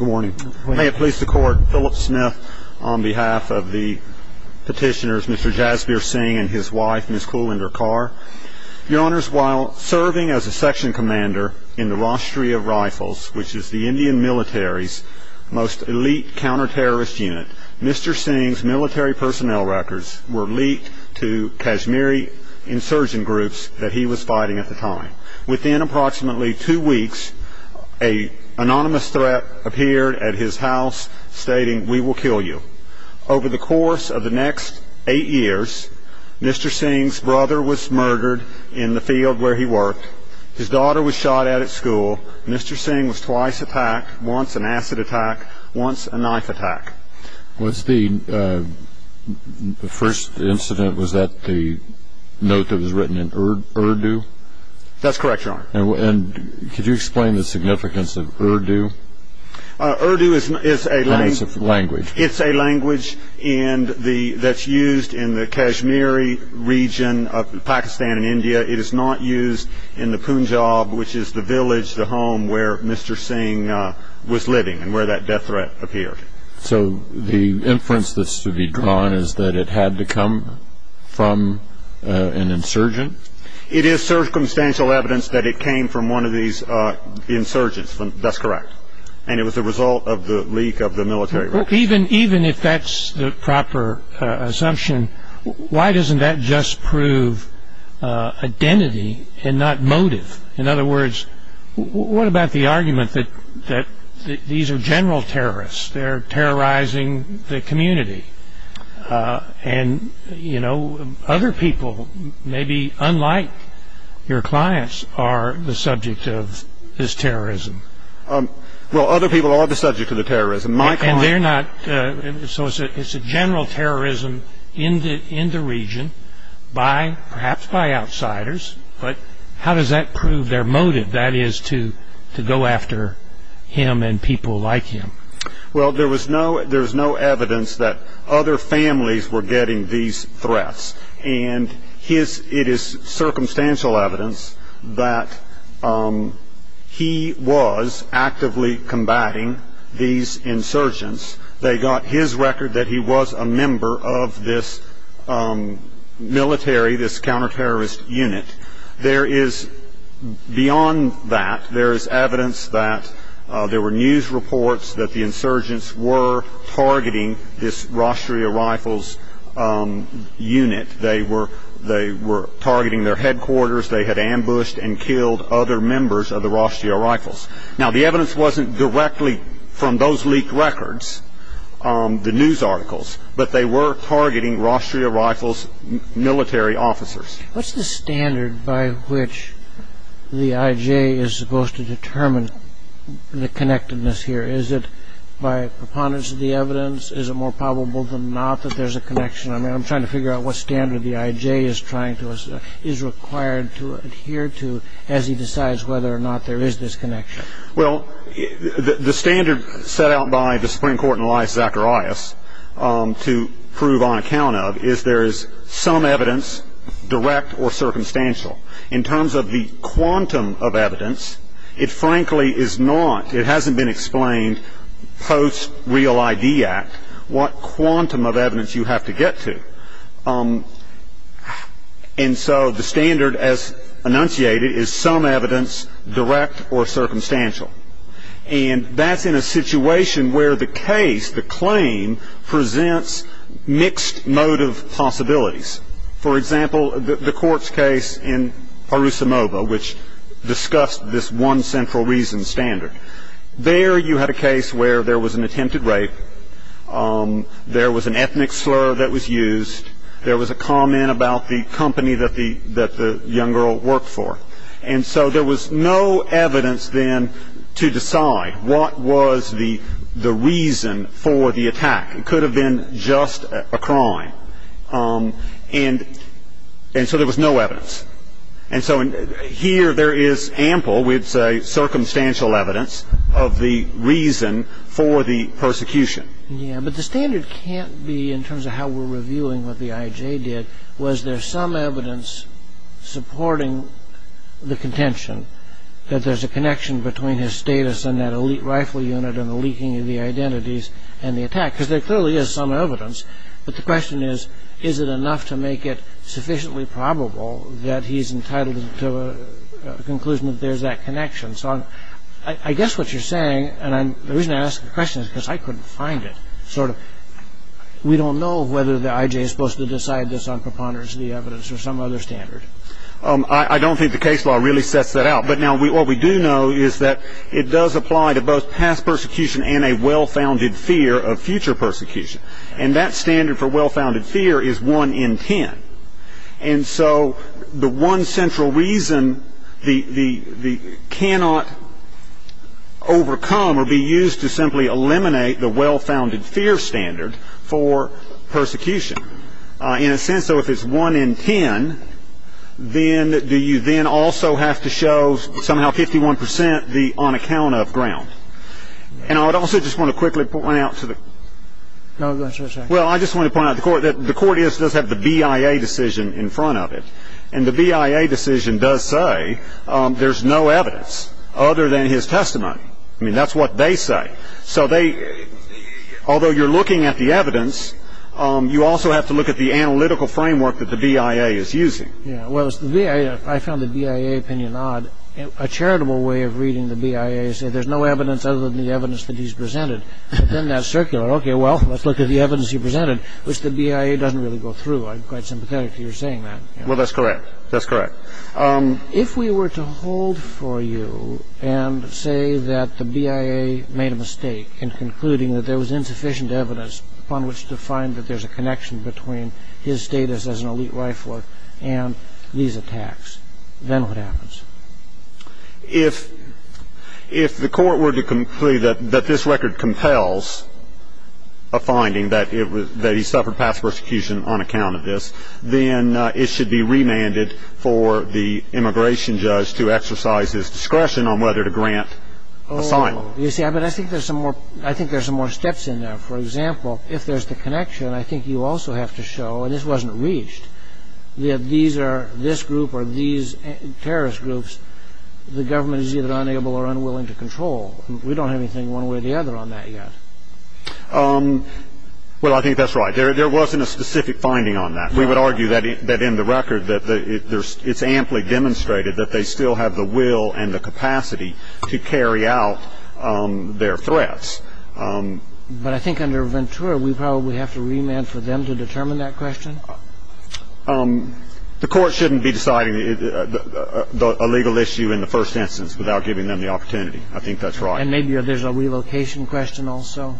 May it please the Court, Phillip Smith on behalf of the petitioners Mr. Jasbir Singh and his wife Ms. Kulinder Kaur. Your Honors, while serving as a section commander in the Rostri of Rifles, which is the Indian military's most elite counter-terrorist unit, Mr. Singh's military personnel records were leaked to Kashmiri insurgent groups that he was fighting at the time. Within approximately two weeks, an anonymous threat appeared at his house stating, We will kill you. Over the course of the next eight years, Mr. Singh's brother was murdered in the field where he worked. His daughter was shot at at school. Mr. Singh was twice attacked, once an acid attack, once a knife attack. Was the first incident, was that the note that was written in Urdu? That's correct, Your Honor. Could you explain the significance of Urdu? Urdu is a language that's used in the Kashmiri region of Pakistan and India. It is not used in the Punjab, which is the village, the home where Mr. Singh was living and where that death threat appeared. So the inference that's to be drawn is that it had to come from an insurgent? It is circumstantial evidence that it came from one of these insurgents. That's correct. And it was the result of the leak of the military records. Even if that's the proper assumption, why doesn't that just prove identity and not motive? In other words, what about the argument that these are general terrorists? They're terrorizing the community. And other people, maybe unlike your clients, are the subject of this terrorism. Well, other people are the subject of the terrorism. So it's a general terrorism in the region, perhaps by outsiders. But how does that prove their motive, that is, to go after him and people like him? Well, there was no evidence that other families were getting these threats. And it is circumstantial evidence that he was actively combating these insurgents. They got his record that he was a member of this military, this counterterrorist unit. Beyond that, there is evidence that there were news reports that the insurgents were targeting this Rostria Rifles unit. They were targeting their headquarters. They had ambushed and killed other members of the Rostria Rifles. Now, the evidence wasn't directly from those leaked records, the news articles, but they were targeting Rostria Rifles military officers. What's the standard by which the I.J. is supposed to determine the connectedness here? Is it by preponderance of the evidence? Is it more probable than not that there's a connection? I mean, I'm trying to figure out what standard the I.J. is required to adhere to as he decides whether or not there is this connection. Well, the standard set out by the Supreme Court in Elias Zacharias to prove on account of is there is some evidence, direct or circumstantial. In terms of the quantum of evidence, it frankly is not. It hasn't been explained post-Real ID Act what quantum of evidence you have to get to. And so the standard as enunciated is some evidence, direct or circumstantial. And that's in a situation where the case, the claim, presents mixed motive possibilities. For example, the court's case in Parousimova, which discussed this one central reason standard. There you had a case where there was an attempted rape. There was an ethnic slur that was used. There was a comment about the company that the young girl worked for. And so there was no evidence then to decide what was the reason for the attack. It could have been just a crime. And so there was no evidence. And so here there is ample, we'd say, circumstantial evidence of the reason for the persecution. Yeah. But the standard can't be in terms of how we're reviewing what the IJ did. Was there some evidence supporting the contention that there's a connection between his status and that elite rifle unit and the leaking of the identities and the attack? Because there clearly is some evidence. But the question is, is it enough to make it sufficiently probable that he's entitled to a conclusion that there's that connection? So I guess what you're saying, and the reason I ask the question is because I couldn't find it. We don't know whether the IJ is supposed to decide this on preponderance of the evidence or some other standard. I don't think the case law really sets that out. But now what we do know is that it does apply to both past persecution and a well-founded fear of future persecution. And that standard for well-founded fear is 1 in 10. And so the one central reason cannot overcome or be used to simply eliminate the well-founded fear standard for persecution. In a sense, though, if it's 1 in 10, then do you then also have to show somehow 51 percent the on-account-of ground? And I would also just want to quickly point out to the court. No, that's what I'm saying. And the BIA decision does say there's no evidence other than his testimony. I mean, that's what they say. So although you're looking at the evidence, you also have to look at the analytical framework that the BIA is using. Yeah, well, I found the BIA opinion odd. A charitable way of reading the BIA is that there's no evidence other than the evidence that he's presented. But then that's circular. Okay, well, let's look at the evidence he presented, which the BIA doesn't really go through. I'm quite sympathetic to your saying that. Well, that's correct. That's correct. If we were to hold for you and say that the BIA made a mistake in concluding that there was insufficient evidence upon which to find that there's a connection between his status as an elite rifler and these attacks, then what happens? If the court were to conclude that this record compels a finding that he suffered past persecution on account of this, then it should be remanded for the immigration judge to exercise his discretion on whether to grant assignments. Oh, you see, I think there's some more steps in there. For example, if there's the connection, I think you also have to show, and this wasn't reached, that these are this group or these terrorist groups the government is either unable or unwilling to control. We don't have anything one way or the other on that yet. Well, I think that's right. There wasn't a specific finding on that. We would argue that in the record it's amply demonstrated that they still have the will and the capacity to carry out their threats. But I think under Ventura we probably have to remand for them to determine that question. The court shouldn't be deciding a legal issue in the first instance without giving them the opportunity. I think that's right. And maybe there's a relocation question also.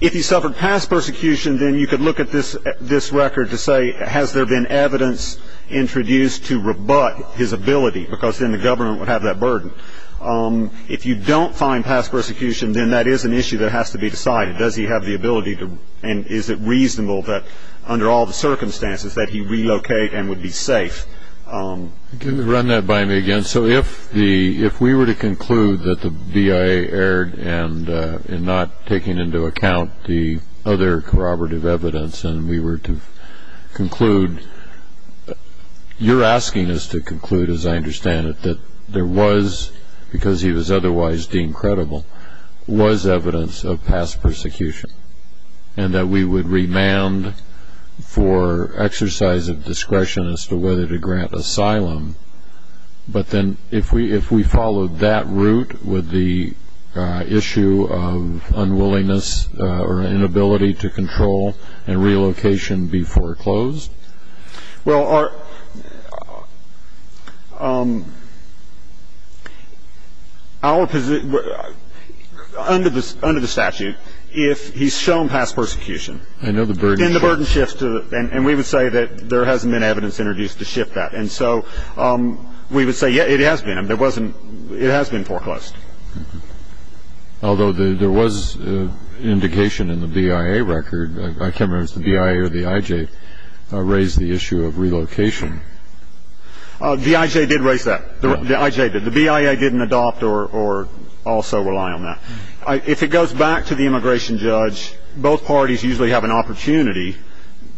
If he suffered past persecution, then you could look at this record to say, has there been evidence introduced to rebut his ability, because then the government would have that burden. But if you don't find past persecution, then that is an issue that has to be decided. Does he have the ability and is it reasonable that under all the circumstances that he relocate and would be safe? Can you run that by me again? So if we were to conclude that the BIA erred in not taking into account the other corroborative evidence and we were to conclude, you're asking us to conclude, as I understand it, that there was, because he was otherwise deemed credible, was evidence of past persecution and that we would remand for exercise of discretion as to whether to grant asylum. But then if we followed that route, would the issue of unwillingness or inability to control and relocation be foreclosed? Well, under the statute, if he's shown past persecution, then the burden shifts. And we would say that there hasn't been evidence introduced to shift that. And so we would say, yeah, it has been. It has been foreclosed. Although there was indication in the BIA record, I can't remember if it was the BIA or the IJ, raised the issue of relocation. The IJ did raise that. The IJ did. The BIA didn't adopt or also rely on that. If it goes back to the immigration judge, both parties usually have an opportunity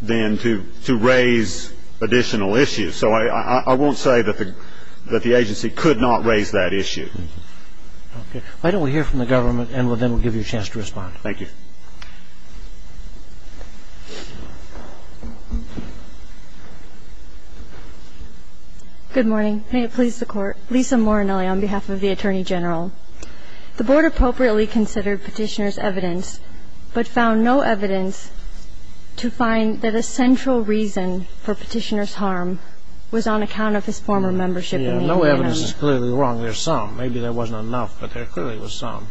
then to raise additional issues. So I won't say that the agency could not raise that issue. Okay. Why don't we hear from the government, and then we'll give you a chance to respond. Thank you. Good morning. May it please the Court. Lisa Morinelli on behalf of the Attorney General. The Board appropriately considered Petitioner's evidence, but found no evidence to find that a central reason for Petitioner's harm was on account of his former membership in the Indian Army. Yeah, no evidence is clearly wrong. There's some. Maybe there wasn't enough, but there clearly was some.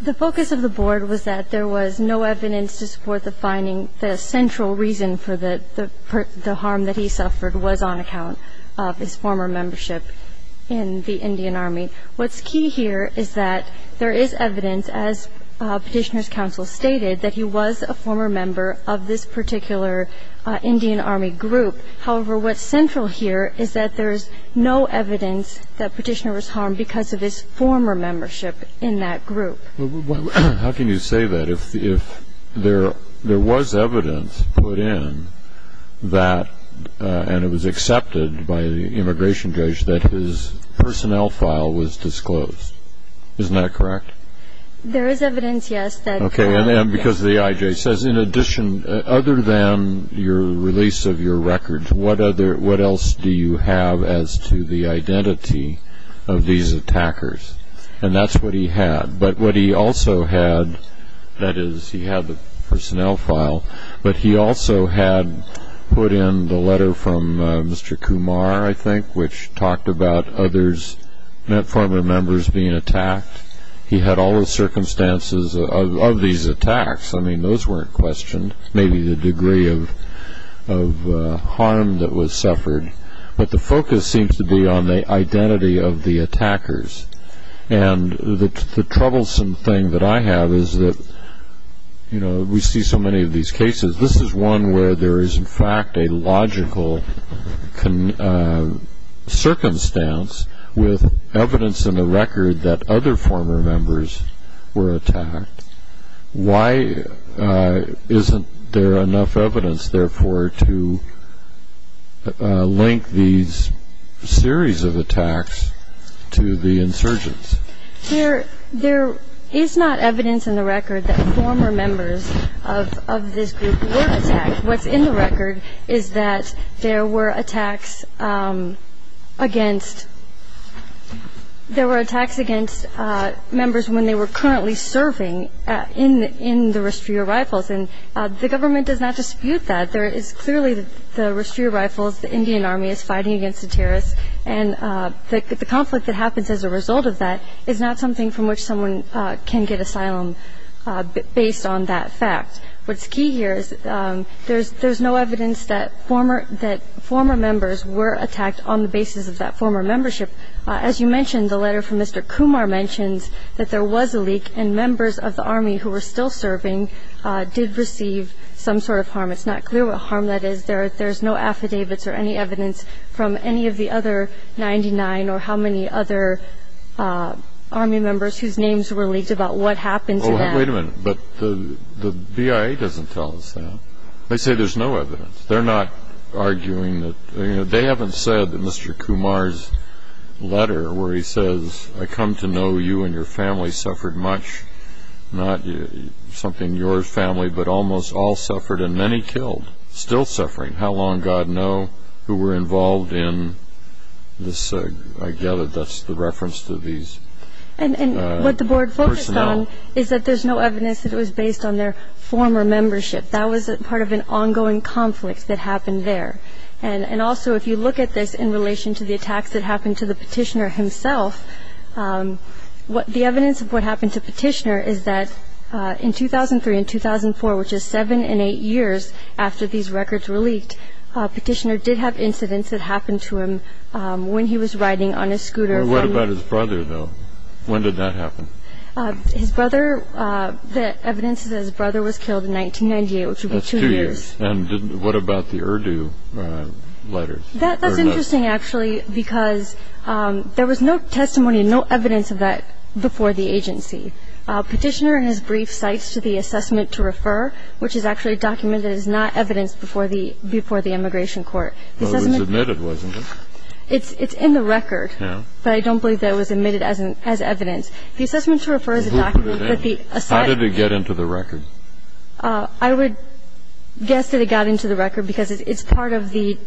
The focus of the Board was that there was no evidence to support the finding that a central reason for the harm that he suffered was on account of his former membership in the Indian Army. What's key here is that there is evidence, as Petitioner's counsel stated, that he was a former member of this particular Indian Army group. However, what's central here is that there's no evidence that Petitioner was harmed because of his former membership in that group. How can you say that if there was evidence put in that, and it was accepted by the immigration judge, that his personnel file was disclosed? Isn't that correct? There is evidence, yes. Okay, and because the IJ says, in addition, other than your release of your records, what else do you have as to the identity of these attackers? And that's what he had. But what he also had, that is, he had the personnel file, but he also had put in the letter from Mr. Kumar, I think, which talked about other former members being attacked. He had all the circumstances of these attacks. I mean, those weren't questioned, maybe the degree of harm that was suffered. But the focus seems to be on the identity of the attackers. And the troublesome thing that I have is that, you know, we see so many of these cases. This is one where there is, in fact, a logical circumstance with evidence in the record that other former members were attacked. Why isn't there enough evidence, therefore, to link these series of attacks to the insurgents? There is not evidence in the record that former members of this group were attacked. What's in the record is that there were attacks against, there were attacks against members when they were currently serving in the restrior rifles. And the government does not dispute that. There is clearly the restrior rifles, the Indian Army is fighting against the terrorists. And the conflict that happens as a result of that is not something from which someone can get asylum based on that fact. What's key here is there's no evidence that former members were attacked on the basis of that former membership. As you mentioned, the letter from Mr. Kumar mentions that there was a leak and members of the Army who were still serving did receive some sort of harm. It's not clear what harm that is. There's no affidavits or any evidence from any of the other 99 or how many other Army members whose names were leaked about what happened to them. Wait a minute, but the BIA doesn't tell us that. They say there's no evidence. They're not arguing that. They haven't said that Mr. Kumar's letter where he says, I come to know you and your family suffered much, not something your family, but almost all suffered and many killed, still suffering. How long, God know, who were involved in this. I gather that's the reference to these personnel. There's no evidence that it was based on their former membership. That was part of an ongoing conflict that happened there. Also, if you look at this in relation to the attacks that happened to the petitioner himself, the evidence of what happened to Petitioner is that in 2003 and 2004, which is seven and eight years after these records were leaked, Petitioner did have incidents that happened to him when he was riding on his scooter. What about his brother, though? When did that happen? The evidence is that his brother was killed in 1998, which would be two years. What about the Urdu letters? That's interesting, actually, because there was no testimony, no evidence of that before the agency. Petitioner in his brief cites to the assessment to refer, which is actually documented as not evidence before the immigration court. It was submitted, wasn't it? It's in the record. But I don't believe that it was admitted as evidence. The assessment to refer is a document that the asylum ---- How did it get into the record? I would guess that it got into the record because it's part of the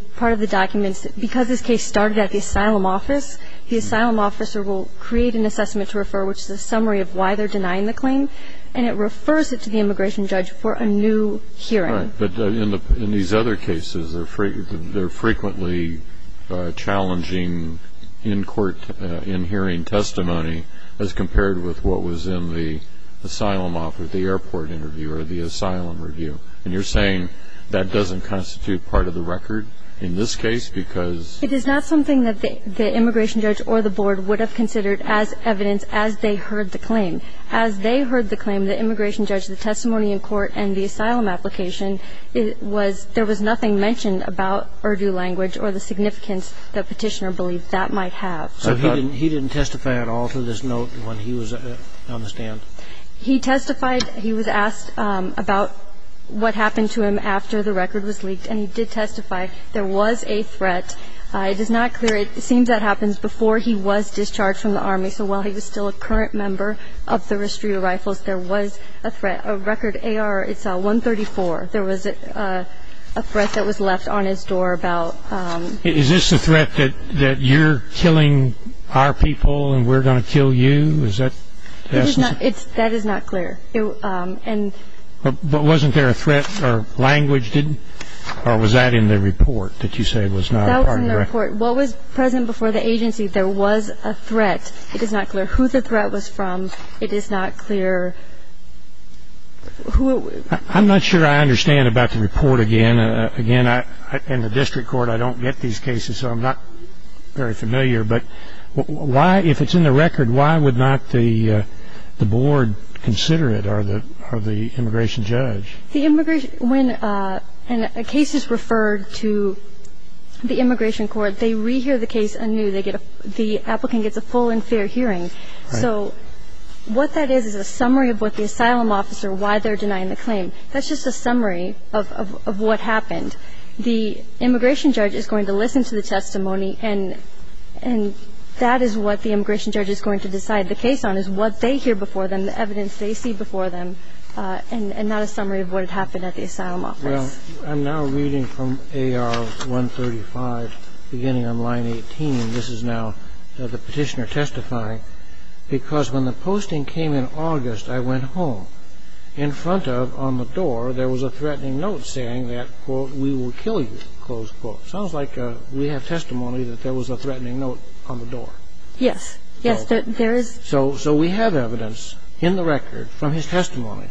documents that because this case started at the asylum office, the asylum officer will create an assessment to refer, which is a summary of why they're denying the claim, and it refers it to the immigration judge for a new hearing. All right, but in these other cases, they're frequently challenging in court in hearing testimony as compared with what was in the asylum office, the airport interview, or the asylum review. And you're saying that doesn't constitute part of the record in this case because ---- It is not something that the immigration judge or the board would have considered as evidence as they heard the claim. As they heard the claim, the immigration judge, the testimony in court, and the asylum application, there was nothing mentioned about Urdu language or the significance that Petitioner believed that might have. So he didn't testify at all to this note when he was on the stand? He testified. He was asked about what happened to him after the record was leaked, and he did testify. There was a threat. It is not clear. It seems that happens before he was discharged from the Army. So while he was still a current member of the Restore Rifles, there was a threat. A record AR, it's 134. There was a threat that was left on his door about ---- Is this a threat that you're killing our people and we're going to kill you? Is that ---- That is not clear. But wasn't there a threat or language didn't ---- or was that in the report that you say was not part of the record? That was in the report. What was present before the agency, there was a threat. It is not clear who the threat was from. It is not clear who it was. I'm not sure I understand about the report again. Again, in the district court, I don't get these cases, so I'm not very familiar. But why, if it's in the record, why would not the board consider it or the immigration judge? When a case is referred to the immigration court, they re-hear the case anew. The applicant gets a full and fair hearing. So what that is is a summary of what the asylum officer, why they're denying the claim. That's just a summary of what happened. The immigration judge is going to listen to the testimony, and that is what the immigration judge is going to decide the case on, is what they hear before them, the evidence they see before them, and not a summary of what had happened at the asylum office. Well, I'm now reading from AR 135, beginning on line 18. This is now the petitioner testifying. Because when the posting came in August, I went home. In front of, on the door, there was a threatening note saying that, quote, we will kill you, close quote. Sounds like we have testimony that there was a threatening note on the door. Yes. Yes, there is. So we have evidence in the record from his testimony,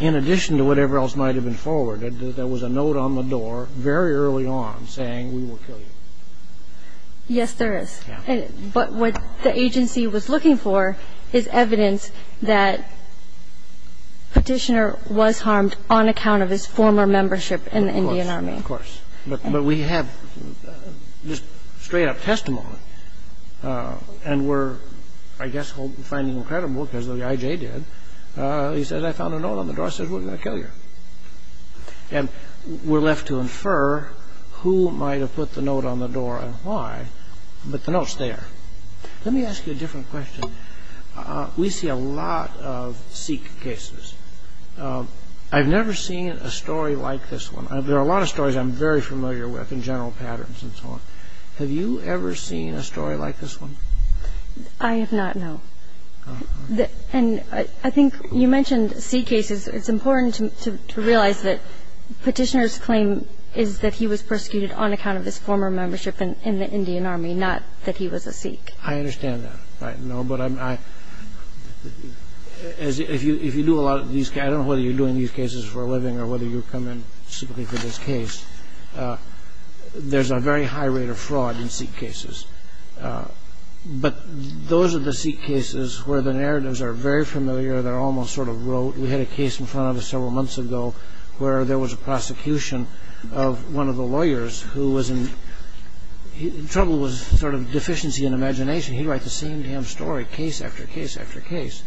in addition to whatever else might have been forwarded, that there was a note on the door very early on saying we will kill you. Yes, there is. Yeah. But what the agency was looking for is evidence that petitioner was harmed on account of his former membership in the Indian Army. Of course. Of course. But we have just straight-up testimony. And we're, I guess, finding incredible, because the IJ did. He says, I found a note on the door. He says, we're going to kill you. And we're left to infer who might have put the note on the door and why, but the note's there. Let me ask you a different question. We see a lot of Sikh cases. I've never seen a story like this one. There are a lot of stories I'm very familiar with in general patterns and so on. Have you ever seen a story like this one? I have not, no. And I think you mentioned Sikh cases. It's important to realize that petitioner's claim is that he was persecuted on account of his former membership in the Indian Army, not that he was a Sikh. I understand that. I know. But if you do a lot of these, I don't know whether you're doing these cases for a living or whether you come in simply for this case, there's a very high rate of fraud in Sikh cases. But those are the Sikh cases where the narratives are very familiar. They're almost sort of rote. We had a case in front of us several months ago where there was a prosecution of one of the lawyers who was in trouble with sort of deficiency in imagination. He'd write the same damn story case after case after case.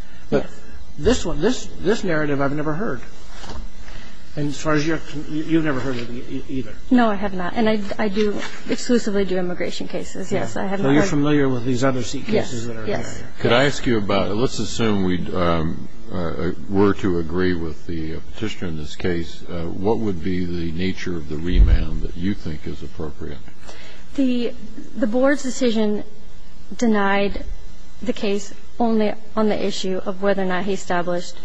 This narrative I've never heard. And as far as you're concerned, you've never heard of it either. No, I have not. And I exclusively do immigration cases, yes. So you're familiar with these other Sikh cases that are out there. Yes. Could I ask you about it? Let's assume we were to agree with the petitioner in this case. What would be the nature of the remand that you think is appropriate? The Board's decision denied the case only on the issue of whether or not he established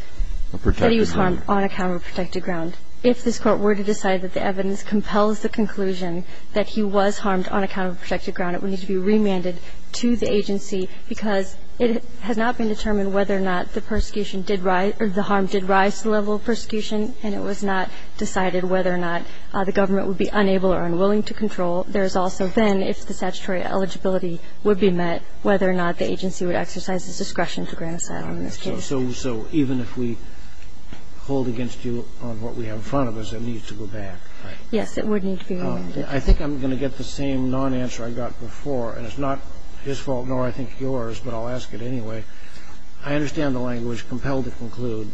that he was harmed on a counterprotected ground. If this Court were to decide that the evidence compels the conclusion that he was harmed on a counterprotected ground, it would need to be remanded to the agency because it has not been determined whether or not the harm did rise to the level of persecution, and it was not decided whether or not the government would be unable or unwilling to control. There has also been, if the statutory eligibility would be met, whether or not the agency would exercise its discretion to grant asylum in this case. So even if we hold against you on what we have in front of us, it needs to go back, right? Yes, it would need to be remanded. I think I'm going to get the same non-answer I got before, and it's not his fault, nor I think yours, but I'll ask it anyway. I understand the language, compelled to conclude.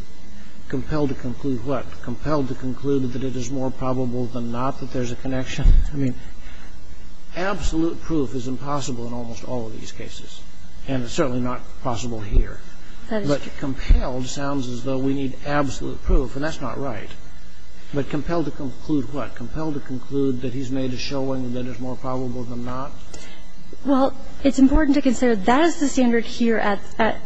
Compelled to conclude what? Compelled to conclude that it is more probable than not that there's a connection? I mean, absolute proof is impossible in almost all of these cases, and it's certainly not possible here. But compelled sounds as though we need absolute proof, and that's not right. But compelled to conclude what? Compelled to conclude that he's made a showing that it's more probable than not? Well, it's important to consider that is the standard here at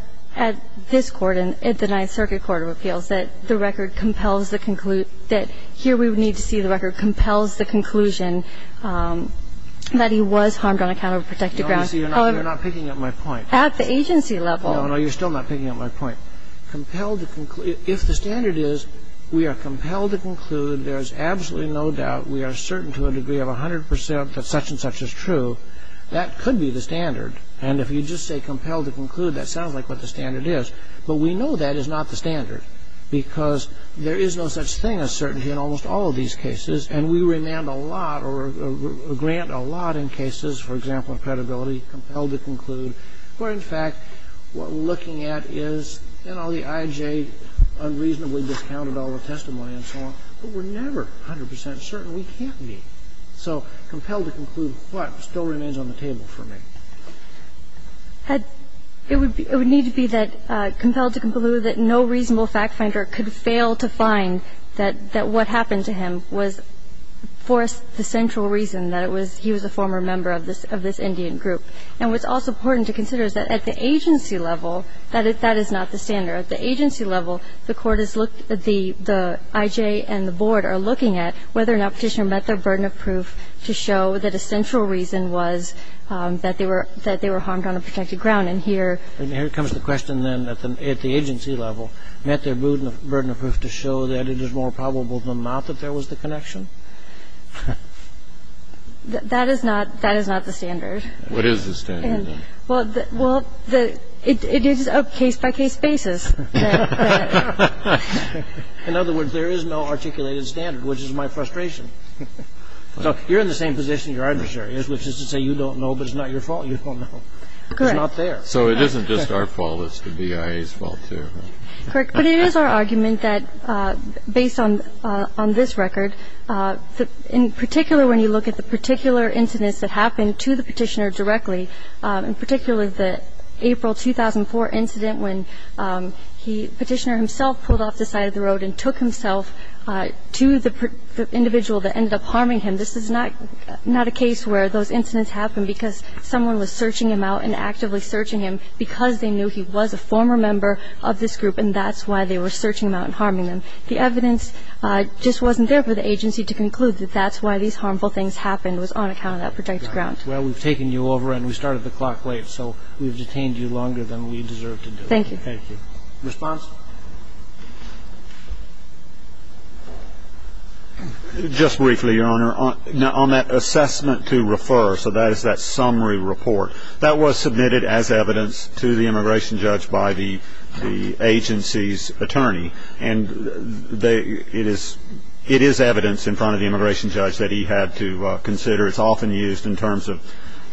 this Court and at the Ninth Circuit Court of Appeals, that the record compels the conclusion that here we would need to see the record compels the conclusion that he was harmed on account of protected grounds. You're not picking up my point. At the agency level. No, no. You're still not picking up my point. Compelled to conclude. If the standard is we are compelled to conclude, there's absolutely no doubt, we are certain to a degree of 100% that such and such is true, that could be the standard. And if you just say compelled to conclude, that sounds like what the standard is. But we know that is not the standard. Because there is no such thing as certainty in almost all of these cases. And we remand a lot or grant a lot in cases, for example, of credibility, compelled to conclude, where in fact what we're looking at is, you know, the IJ unreasonably discounted all the testimony and so on. But we're never 100% certain we can't be. So compelled to conclude, what still remains on the table for me? It would need to be that compelled to conclude that no reasonable fact finder could fail to find that what happened to him was for the central reason that he was a former member of this Indian group. And what's also important to consider is that at the agency level, that is not the standard. And the reason why we're looking at the IJ and the board is because the IJ and the board are looking at whether or not the petitioner met their burden of proof to show that a central reason was that they were harmed on a protected ground. And here comes the question then, at the agency level, met their burden of proof to show that it is more probable than not that there was the connection? That is not the standard. What is the standard then? Well, it is a case-by-case basis. In other words, there is no articulated standard, which is my frustration. You're in the same position your adversary is, which is to say you don't know, but it's not your fault. You don't know. It's not there. So it isn't just our fault. It's the BIA's fault, too. Correct. But it is our argument that based on this record, in particular when you look at the particular incidents that happened to the petitioner directly, in particular the April 2004 incident when the petitioner himself pulled off the side of the road and took himself to the individual that ended up harming him, this is not a case where those incidents happened because someone was searching him out and actively searching him because they knew he was a former member of this group and that's why they were searching him out and harming him. The evidence just wasn't there for the agency to conclude that that's why these harmful things happened was on account of that project ground. Well, we've taken you over and we started the clock late, so we've detained you longer than we deserve to do. Thank you. Thank you. Response? Just briefly, Your Honor, on that assessment to refer, so that is that summary report, that was submitted as evidence to the immigration judge by the agency's attorney, and it is evidence in front of the immigration judge that he had to consider. It's often used in terms of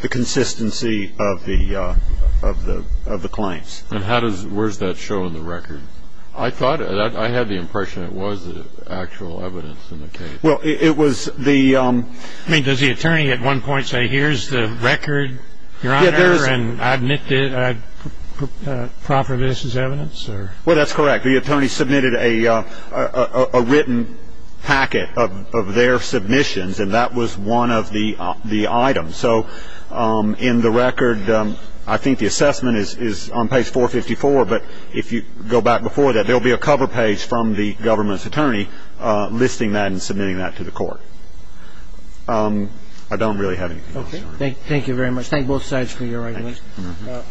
the consistency of the claims. And where's that show in the record? I had the impression it was the actual evidence in the case. Well, it was the... I mean, does the attorney at one point say, here's the record, Your Honor, and I admit that I proffer this as evidence? Well, that's correct. The attorney submitted a written packet of their submissions and that was one of the items. So in the record, I think the assessment is on page 454, but if you go back before that, there'll be a cover page from the government's attorney listing that and submitting that to the court. I don't really have anything else, Your Honor. Okay. Thank you very much. Thank both sides for your arguments. The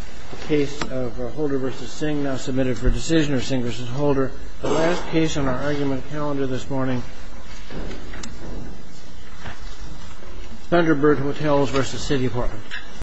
case of Holder v. Singh, now submitted for decision, or Singh v. Holder. The last case on our argument calendar this morning, Thunderbird Hotels v. City Apartment.